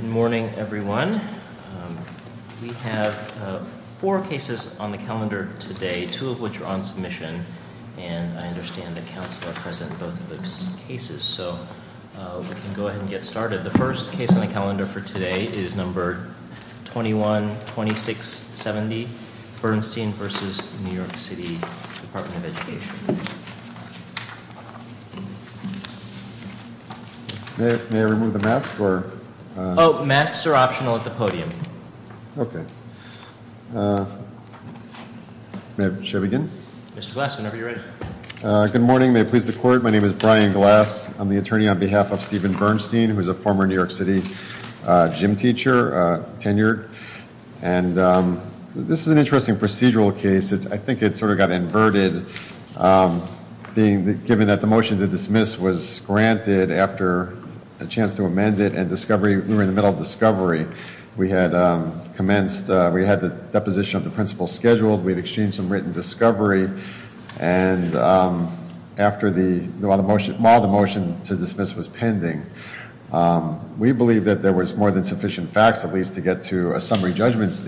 Good morning, everyone. We have four cases on the calendar today, two of which are on submission, and I understand that counsel are present in both of those cases. So, we can go ahead and get started. The first case on the calendar for today is number 21-2670, Bernstein v. New York City Department of Education. May I remove the mask? Oh, masks are optional at the podium. Okay, may I begin? Mr. Glass, whenever you're ready. Good morning, may it please the Court. My name is Brian Glass. I'm the attorney on behalf of Steven Bernstein, who is a former New York City gym teacher, tenured, and this is an being given that the motion to dismiss was granted after a chance to amend it and discovery, we were in the middle of discovery. We had commenced, we had the deposition of the principle scheduled, we had exchanged some written discovery, and after the, while the motion to dismiss was pending, we believe that there was more than sufficient facts at least to get to a lineman's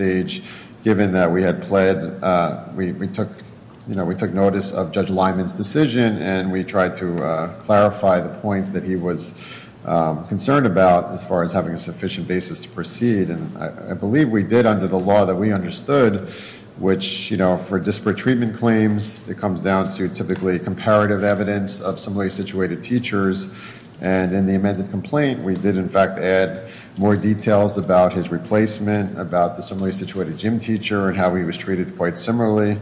decision, and we tried to clarify the points that he was concerned about as far as having a sufficient basis to proceed, and I believe we did under the law that we understood, which, you know, for disparate treatment claims, it comes down to typically comparative evidence of similarly situated teachers, and in the amended complaint, we did in fact add more details about his replacement, about the similarly situated gym teacher and how he was treated quite similarly.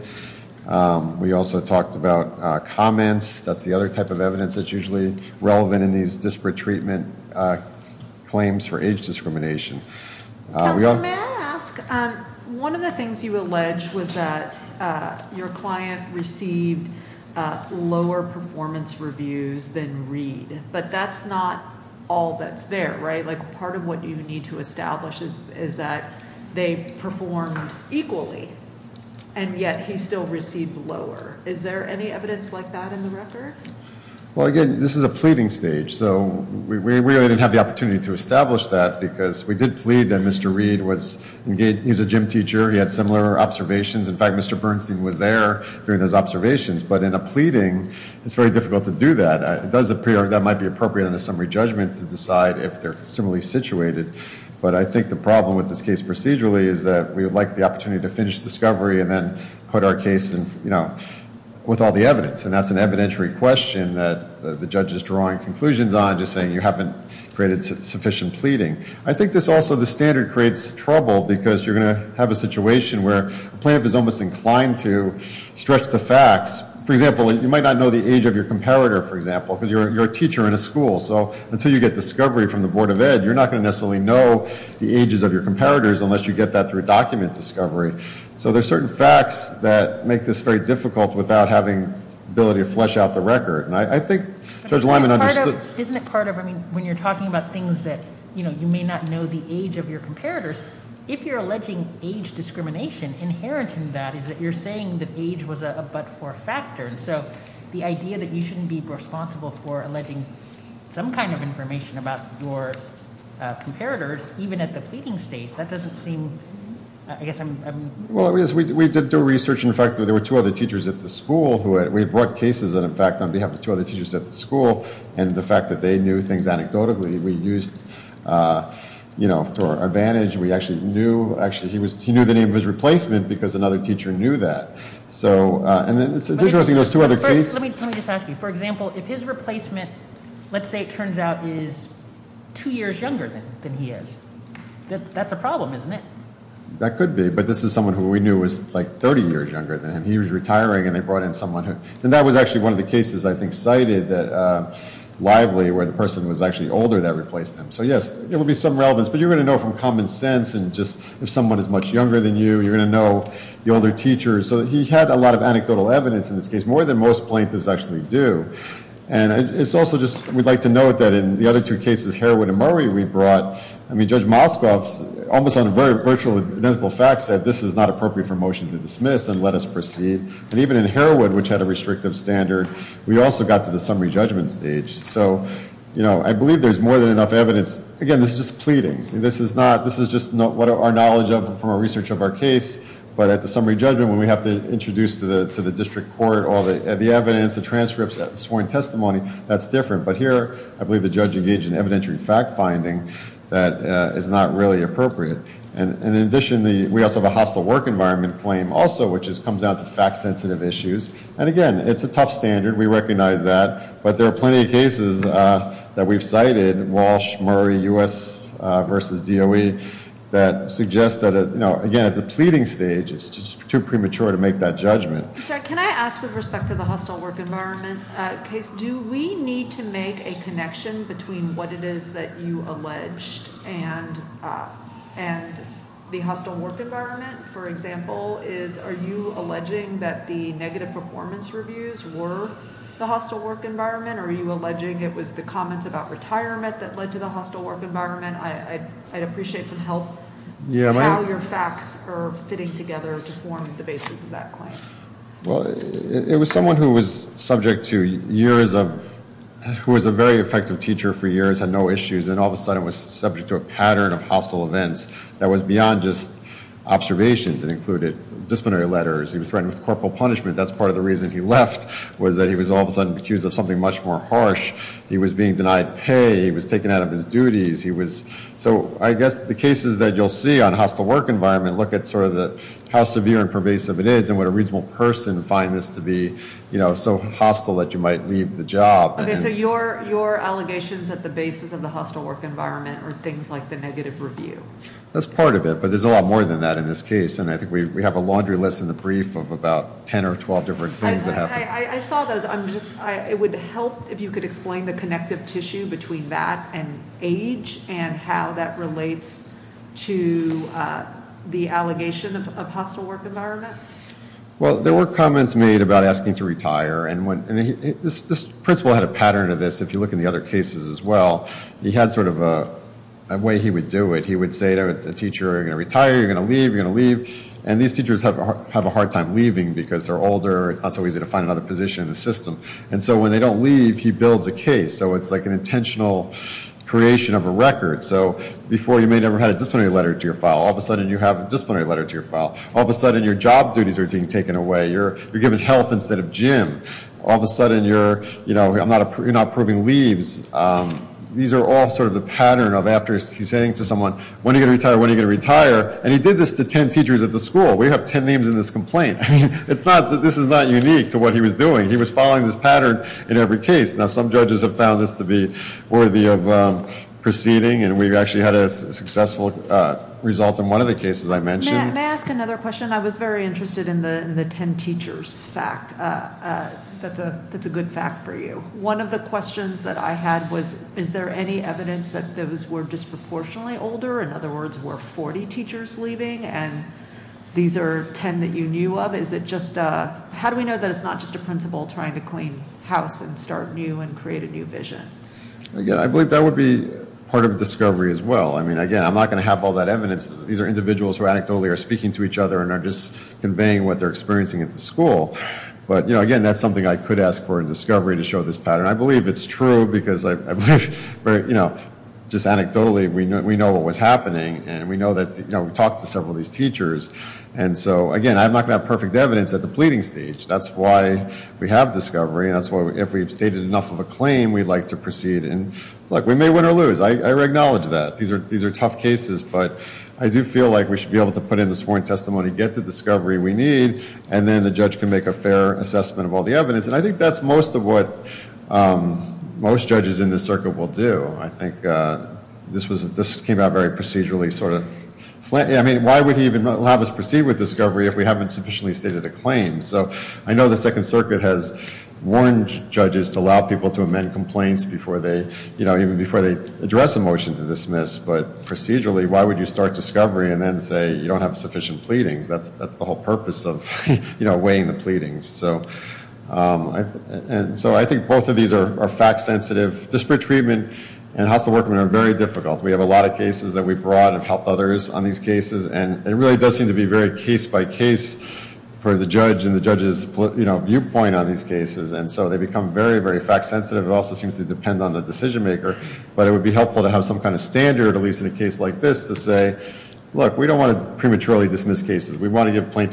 We also talked about comments, that's the other type of evidence that's usually relevant in these disparate treatment claims for age discrimination. Counselor, may I ask, one of the things you allege was that your client received lower performance reviews than Reed, but that's not all that's there, right? Like part of what you need to establish is that they performed equally, and yet he still received lower. Is there any evidence like that in the record? Well, again, this is a pleading stage, so we really didn't have the opportunity to establish that because we did plead that Mr. Reed was engaged, he was a gym teacher, he had similar observations. In fact, Mr. Bernstein was there during those observations, but in a pleading, it's very difficult to do that. It does appear that might be appropriate in a summary judgment to decide if they're similarly situated, but I think the problem with this case procedurally is that we would like the opportunity to finish discovery and then put our case in, you know, with all the evidence, and that's an evidentiary question that the judge is drawing conclusions on, just saying you haven't created sufficient pleading. I think this also, the standard creates trouble because you're going to have a situation where a plaintiff is almost inclined to stretch the facts. For example, you might not know the age of your teacher in a school, so until you get discovery from the Board of Ed, you're not going to necessarily know the ages of your comparators unless you get that through document discovery. So there's certain facts that make this very difficult without having the ability to flesh out the record, and I think Judge Lyman understood. Isn't it part of, I mean, when you're talking about things that, you know, you may not know the age of your comparators, if you're alleging age discrimination, inherent in that is that you're saying that age was a but-for factor, and so the idea that you shouldn't be responsible for alleging some kind of information about your comparators, even at the pleading stage, that doesn't seem, I guess I'm... Well, yes, we did do research, in fact, there were two other teachers at the school who had, we brought cases that, in fact, on behalf of two other teachers at the school, and the fact that they knew things anecdotally, we used, you know, to our advantage. We actually knew, actually, he was, he knew the name of his replacement because another teacher knew that. So, and it's interesting, those two other cases... Let me just ask you, for example, if his replacement, let's say, it turns out, is two years younger than he is, that's a problem, isn't it? That could be, but this is someone who we knew was like 30 years younger than him. He was retiring, and they brought in someone who, and that was actually one of the cases, I think, cited that widely, where the person was actually older that replaced him. So, yes, it would be some relevance, but you're going to know from common sense, and just if someone is much younger than you, you're going to know the older teacher. So, he had a lot of anecdotal evidence in this case, more than most plaintiffs actually do, and it's also just, we'd like to note that in the other two cases, Heroin and Murray, we brought, I mean, Judge Moskowitz, almost on a very virtual, identical fact set, this is not appropriate for motion to dismiss and let us proceed, and even in Heroin, which had a restrictive standard, we also got to the summary judgment stage. So, you know, I believe there's more than enough evidence. Again, this is just pleadings, and this is not, this is just not what our knowledge of from our research of our case, but at the summary judgment, when we have to introduce to the district court all the evidence, the transcripts, sworn testimony, that's different, but here, I believe the judge engaged in evidentiary fact finding that is not really appropriate, and in addition, we also have a hostile work environment claim also, which comes down to fact-sensitive issues, and again, it's a tough standard. We recognize that, but there are plenty of cases that we've cited, Walsh, Murray, U.S. versus DOE, that suggest that, you know, again, at the pleading stage, it's just too premature to make that judgment. I'm sorry, can I ask with respect to the hostile work environment case, do we need to make a connection between what it is that you alleged and the hostile work environment? For example, is, are you alleging that the negative performance reviews were the hostile work environment, or are you alleging it was the comments about retirement that led to the hostile work environment? I'd appreciate some help, how your facts are fitting together to form the basis of that claim. Well, it was someone who was subject to years of, who was a very effective teacher for years, had no issues, and all of a sudden was subject to a pattern of hostile events that was beyond just observations and included disciplinary letters. He was threatened with corporal punishment. That's part of the reason he left, was that he was all of a sudden accused of something much more harsh. He was being denied pay. He was taken out of his duties. He was, so I guess the cases that you'll see on hostile work environment look at sort of the, how severe and pervasive it is, and what a reasonable person find this to be, you know, so hostile that you might leave the job. Okay, so your, your allegations at the basis of the hostile work environment are things like the negative review. That's part of it, but there's a lot more than that in this case, and I think we have a laundry list in the brief of about 10 or 12 different things that happened. I saw those. I'm just, it would help if you could explain the connective tissue between that and age and how that relates to the allegation of hostile work environment. Well, there were comments made about asking to retire, and when, and this, this principal had a pattern of this, if you look in the other cases as well, he had sort of a way he would do it. He would say to a teacher, you're going to retire, you're going to leave, you're going to leave, and these teachers have, have a hard time leaving because they're older. It's not so easy to find another position in the system, and so when they don't leave, he builds a case. So it's like an intentional creation of a record. So before, you may never had a disciplinary letter to your file. All of a sudden, you have a disciplinary letter to your file. All of a sudden, your job duties are being taken away. You're, you're given health instead of gym. All of a sudden, you're, you know, I'm not, you're not approving leaves. These are all sort of the pattern of after he's saying to someone, when are you going to retire, when are you going to retire, and he did this to 10 teachers at the school. We have 10 names in this complaint. I mean, it's not that this is not unique to what he was doing. He was following this pattern in every case. Now, some judges have found this to be worthy of proceeding, and we've actually had a successful result in one of the cases I mentioned. May I ask another question? I was very interested in the, in the 10 teachers fact. That's a, that's a good fact for you. One of the questions that I had was, is there any evidence that those were disproportionately older? In other words, were 40 teachers leaving, and these are 10 that you knew of? Is it just, how do we know that it's not just a principal trying to clean house and start new and create a new vision? Again, I believe that would be part of a discovery as well. I mean, again, I'm not going to have all that evidence. These are individuals who anecdotally are speaking to each other and are just conveying what they're experiencing at the school. But, you know, again, that's something I could ask for in discovery to show this pattern. I believe it's true because I believe, you know, just anecdotally, we know what was happening, and we know that, you know, we've talked to several of these teachers. And so, again, I'm not going to have perfect evidence at the pleading stage. That's why we have discovery, and that's why if we've stated enough of a claim, we'd like to proceed. And look, we may win or lose. I acknowledge that. These are, these are tough cases, but I do feel like we should be able to put in the sworn testimony, get the discovery we need, and then the judge can make a fair assessment of all the evidence. And I think that's most of what most judges in this circuit will do. I think this was, this came out very procedurally, sort of. I mean, why would he even have us proceed with discovery if we haven't sufficiently stated a claim? So I know the Second Circuit has warned judges to allow people to amend complaints before they, you know, even before they address a motion to dismiss. But procedurally, why would you start discovery and then say you don't have sufficient pleadings? That's the whole purpose of weighing the pleadings. So, and so I think both of these are fact sensitive. Disparate treatment and hostile workmen are very difficult. We have a lot of cases that we've brought and have helped others on these cases, and it really does seem to be very case by case for the judge and the judge's, you know, viewpoint on these cases. And so they become very, very fact sensitive. It also seems to depend on the decision maker. But it would be helpful to have some kind of standard, at least in a case like this, to say, look, we don't want to prematurely dismiss cases. We want to give let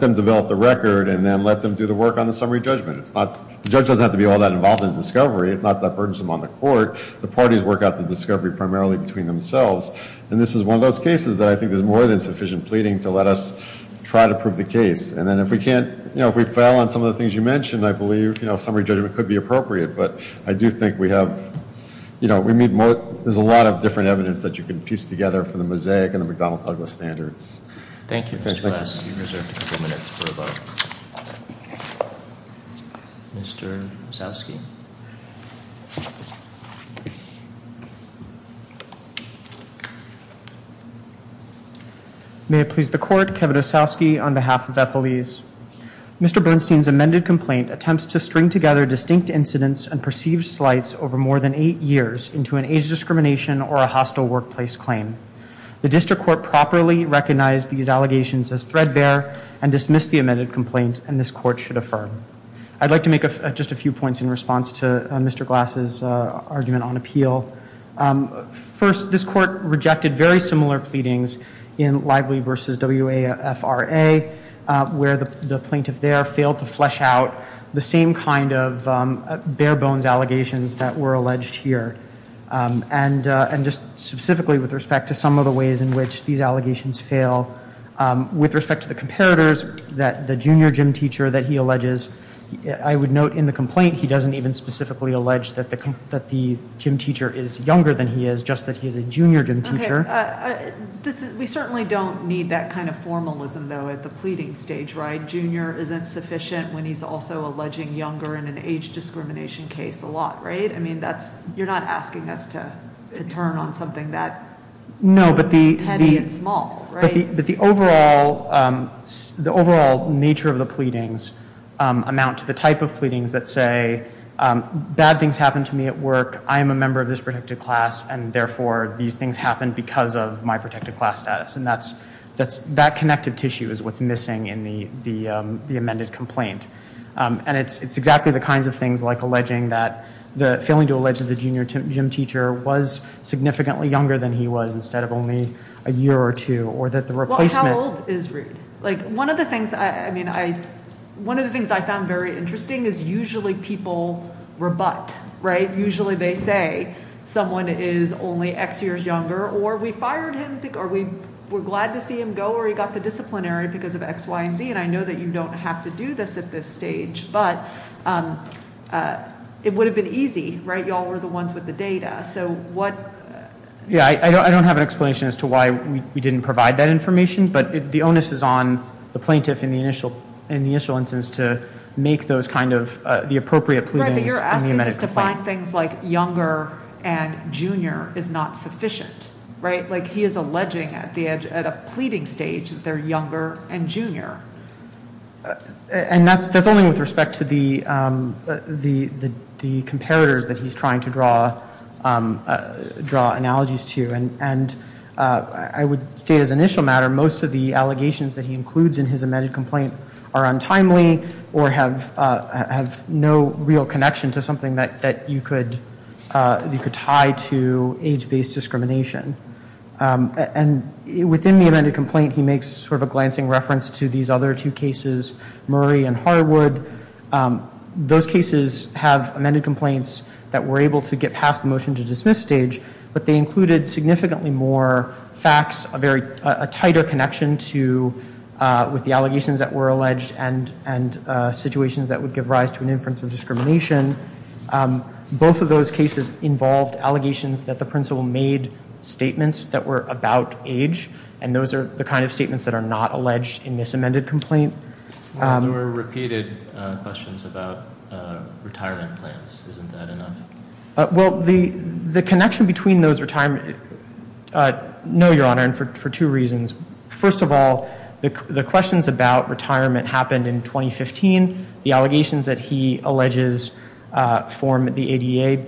them develop the record and then let them do the work on the summary judgment. It's not, the judge doesn't have to be all that involved in discovery. It's not that burdensome on the court. The parties work out the discovery primarily between themselves. And this is one of those cases that I think there's more than sufficient pleading to let us try to prove the case. And then if we can't, you know, if we fail on some of the things you mentioned, I believe, you know, summary judgment could be appropriate. But I do think we have, you know, we need more, there's a lot of different evidence that you can piece together for the Mosaic and the McDonald-Douglas standards. Thank you. Mr. Osowski. May it please the court, Kevin Osowski on behalf of Epelese. Mr. Bernstein's amended complaint attempts to string together distinct incidents and perceived slights over more than allegations as threadbare and dismiss the amended complaint and this court should affirm. I'd like to make just a few points in response to Mr. Glass's argument on appeal. First, this court rejected very similar pleadings in Lively v. WAFRA where the plaintiff there failed to flesh out the same kind of bare bones allegations that were alleged here. And just specifically with respect to some of the ways in which these allegations fail, with respect to the comparators that the junior gym teacher that he alleges, I would note in the complaint he doesn't even specifically allege that the gym teacher is younger than he is, just that he is a junior gym teacher. We certainly don't need that kind of formalism though at the pleading stage, right? Junior isn't sufficient when he's also alleging younger in an age discrimination case a lot, right? I mean, you're not asking us to turn on something that petty and small, right? No, but the overall nature of the pleadings amount to the type of pleadings that say bad things happened to me at work, I am a member of this protected class, and therefore these things happened because of my protected class status. And that connective exactly the kinds of things like alleging that the, failing to allege that the junior gym teacher was significantly younger than he was instead of only a year or two, or that the replacement- Well, how old is Reed? Like, one of the things I, I mean, I, one of the things I found very interesting is usually people rebut, right? Usually they say someone is only x years younger, or we fired him, or we were glad to see him go, or he got the disciplinary because of x, y, and z, I know that you don't have to do this at this stage, but it would have been easy, right? Y'all were the ones with the data, so what- Yeah, I don't have an explanation as to why we didn't provide that information, but the onus is on the plaintiff in the initial, in the initial instance to make those kind of, the appropriate pleadings- Right, but you're asking us to find things like younger and junior is not sufficient, right? Like he is alleging at the, at a pleading stage that they're younger and junior. And that's, that's only with respect to the, the, the, the comparators that he's trying to draw, draw analogies to, and, and I would state as initial matter, most of the allegations that he includes in his amended complaint are untimely, or have, have no real connection to something that, that you could, you could tie to age-based discrimination, and within the amended complaint, he makes sort of a glancing reference to these other two cases, Murray and Harwood. Those cases have amended complaints that were able to get past the motion to dismiss stage, but they included significantly more facts, a very, a tighter connection to, with the allegations that were alleged and, and situations that would give rise to an inference of discrimination. Both of those cases involved allegations that the principal made statements that were about age, and those are the kind of statements that are not alleged in this amended complaint. There were repeated questions about retirement plans. Isn't that enough? Well, the, the connection between those retirement, no, your honor, and for, for two reasons. First of all, the, the questions about retirement happened in 2015. The allegations that he alleges form the ADA,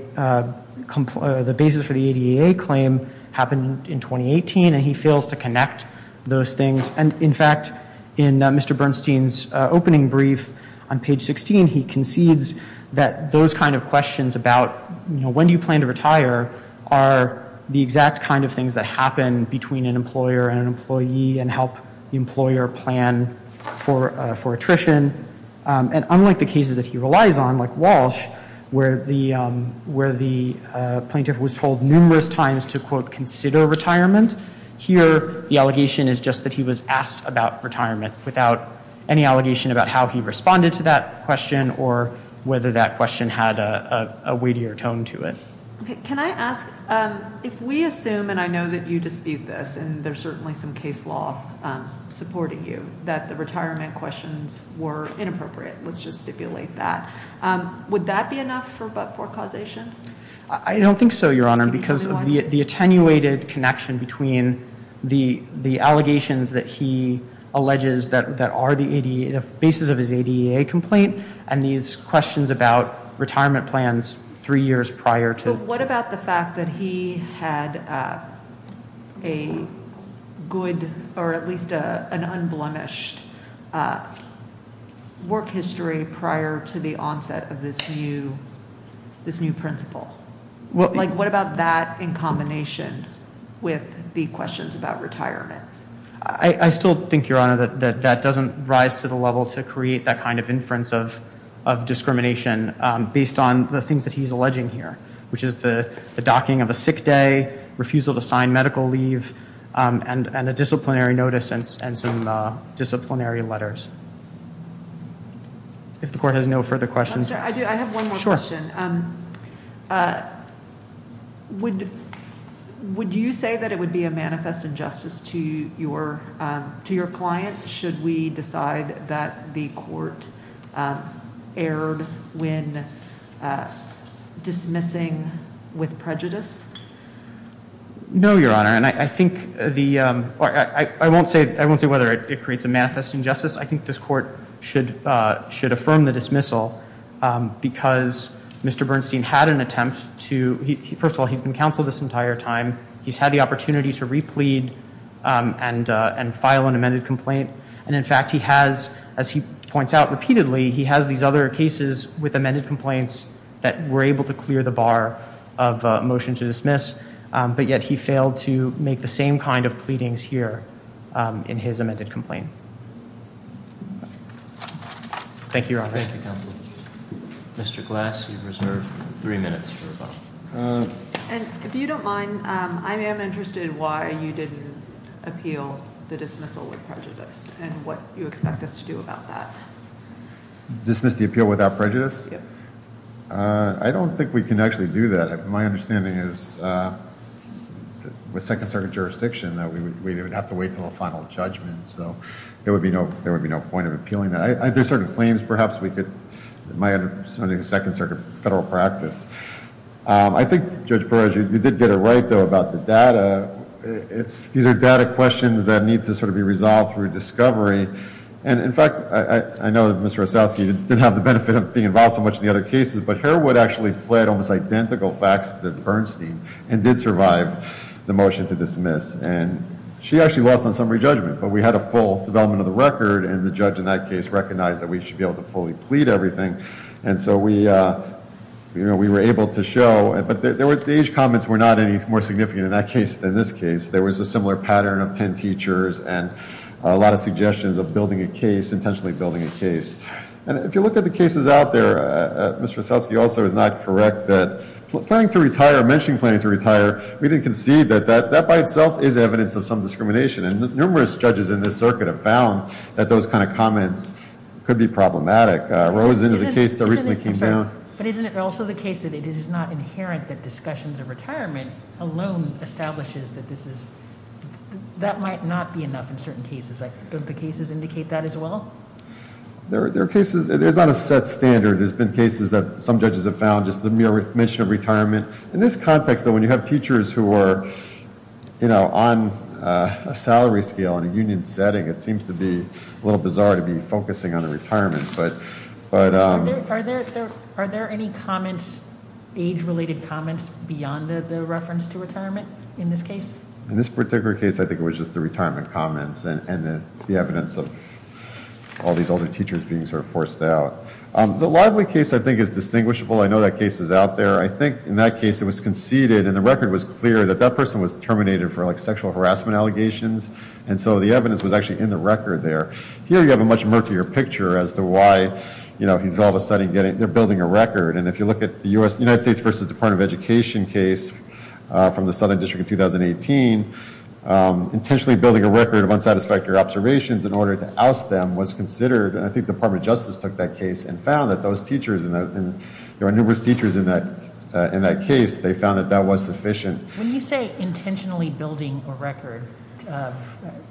the basis for the ADA claim happened in 2018, and he fails to connect those things, and in fact, in Mr. Bernstein's opening brief on page 16, he concedes that those kind of questions about, you know, when do you plan to retire, are the exact kind of things that happen between an employer and an employee, and help the employer plan for, for attrition, and unlike the cases that he relies on, like Walsh, where the, where the plaintiff was told numerous times to, quote, consider retirement. Here, the allegation is just that he was asked about retirement without any allegation about how he responded to that question or whether that question had a, a weightier tone to it. Okay, can I ask, if we assume, and I know that you dispute this, and there's certainly some case law supporting you, that the retirement questions were inappropriate. Let's just stipulate that. Would that be enough for, for causation? I don't think so, your honor, because of the attenuated connection between the, the allegations that he alleges that, that are the ADA, the basis of his ADA complaint, and these questions about retirement plans three years prior to. What about the fact that he had a good, or at least a, an unblemished work history prior to the onset of this new, this new principle? What, like, what about that in combination with the questions about retirement? I, I still think, your honor, that, that doesn't rise to the level to create that kind of inference of, of discrimination based on the things that he's alleging here, which is the docking of a sick day, refusal to sign medical leave, and, and a disciplinary notice, and some disciplinary letters. If the court has no further questions. I'm sorry, I do, I have one more question. Would, would you say that it would be a manifest injustice to your, to your client, should we decide that the court erred when dismissing with prejudice? No, your honor, and I think the, I won't say, I won't say whether it creates a manifest injustice. I think this court should, should affirm the dismissal, because Mr. Bernstein had an attempt to, he, first of all, he's been counseled this entire time. He's had the And in fact, he has, as he points out repeatedly, he has these other cases with amended complaints that were able to clear the bar of a motion to dismiss, but yet he failed to make the same kind of pleadings here in his amended complaint. Thank you, your honor. Thank you, counsel. Mr. Glass, you've reserved three minutes for rebuttal. And if you don't mind, I am interested why you didn't appeal the dismissal with prejudice and what you expect us to do about that. Dismiss the appeal without prejudice? Yep. I don't think we can actually do that. My understanding is with Second Circuit jurisdiction that we would have to wait until a final judgment. So there would be no, there would be no point of appealing that. There's certain claims perhaps we could, my understanding is Second Circuit federal practice. I think, Judge Perez, you did get it right though about the data. It's, these are data questions that need to sort of be resolved through discovery. And in fact, I know that Mr. Osowski didn't have the benefit of being involved so much in the other cases, but Harewood actually pled almost identical facts to Bernstein and did survive the motion to dismiss. And she actually lost on summary judgment, but we had a full development of the record and the judge in that case recognized that we should be able to fully plead everything. And so we, you know, we were able to show, but there were, the age comments were not any more significant in that case than this case. There was a similar pattern of 10 teachers and a lot of suggestions of building a case, intentionally building a case. And if you look at the cases out there, Mr. Osowski also is not correct that planning to retire, mentioning planning to retire, we didn't concede that that by itself is evidence of some discrimination. And those kinds of comments could be problematic. Rosen is a case that recently came down. But isn't it also the case that it is not inherent that discussions of retirement alone establishes that this is, that might not be enough in certain cases. Don't the cases indicate that as well? There are cases, there's not a set standard. There's been cases that some judges have found just the mere mention of retirement. In this context though, when you have teachers who are, you know, on a salary scale, in a union setting, it seems to be a little bizarre to be focusing on the retirement. But, are there any comments, age related comments beyond the reference to retirement in this case? In this particular case, I think it was just the retirement comments and the evidence of all these older teachers being sort of forced out. The Lively case I think is distinguishable. I know that case is out there. I think in that case it was conceded and the record was clear that that person was terminated for like sexual harassment allegations. And so the evidence was actually in the record there. Here you have a much murkier picture as to why, you know, he's all of a sudden getting, they're building a record. And if you look at the U.S., United States v. Department of Education case from the Southern District in 2018, intentionally building a record of unsatisfactory observations in order to oust them was considered. And I think the Department of Justice took that case and found that those teachers, there were numerous teachers in that case, they found that that was sufficient. When you say intentionally building a record,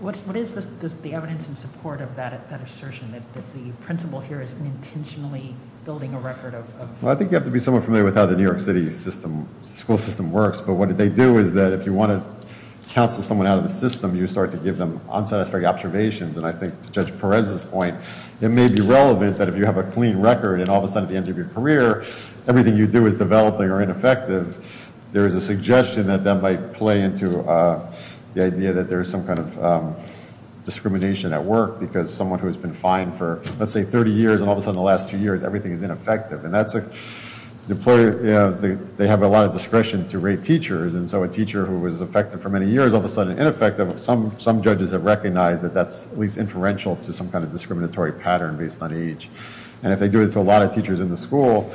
what is the evidence in support of that assertion? That the principal here is intentionally building a record of... Well, I think you have to be somewhat familiar with how the New York City school system works. But what they do is that if you want to counsel someone out of the system, you start to give them unsatisfactory observations. And I think to Judge Perez's point, it may be relevant that if you have a clean record, and all of a sudden at the end of your career, everything you do is developing or ineffective, there is a suggestion that that might play into the idea that there is some kind of discrimination at work because someone who has been fined for, let's say, 30 years, and all of a sudden the last two years, everything is ineffective. And that's a... The employer, you know, they have a lot of discretion to rate teachers. And so a teacher who was effective for many years, all of a sudden ineffective, some judges have recognized that that's at least inferential to some kind of discriminatory pattern based on age. And if they do it to a lot of teachers in the school,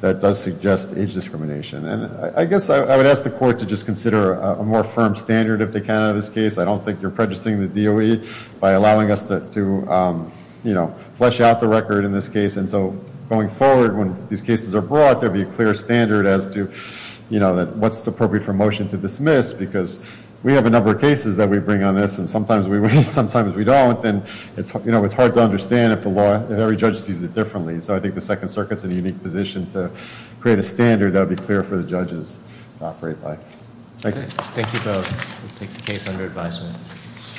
that does suggest age discrimination. And I guess I would ask the court to just consider a more firm standard, if they can, of this case. I don't think you're prejudicing the DOE by allowing us to, you know, flesh out the record in this case. And so going forward, when these cases are brought, there'll be a clear standard as to, you know, what's appropriate for motion to dismiss because we have a number of cases that we bring on this, and sometimes we win, sometimes we don't. And it's, you know, it's hard to understand if the law, if every judge sees it differently. So I think the Second Circuit's in a unique position to create a standard that would be clear for the judges to operate by. Thank you. Thank you both. We'll take the case under advisement.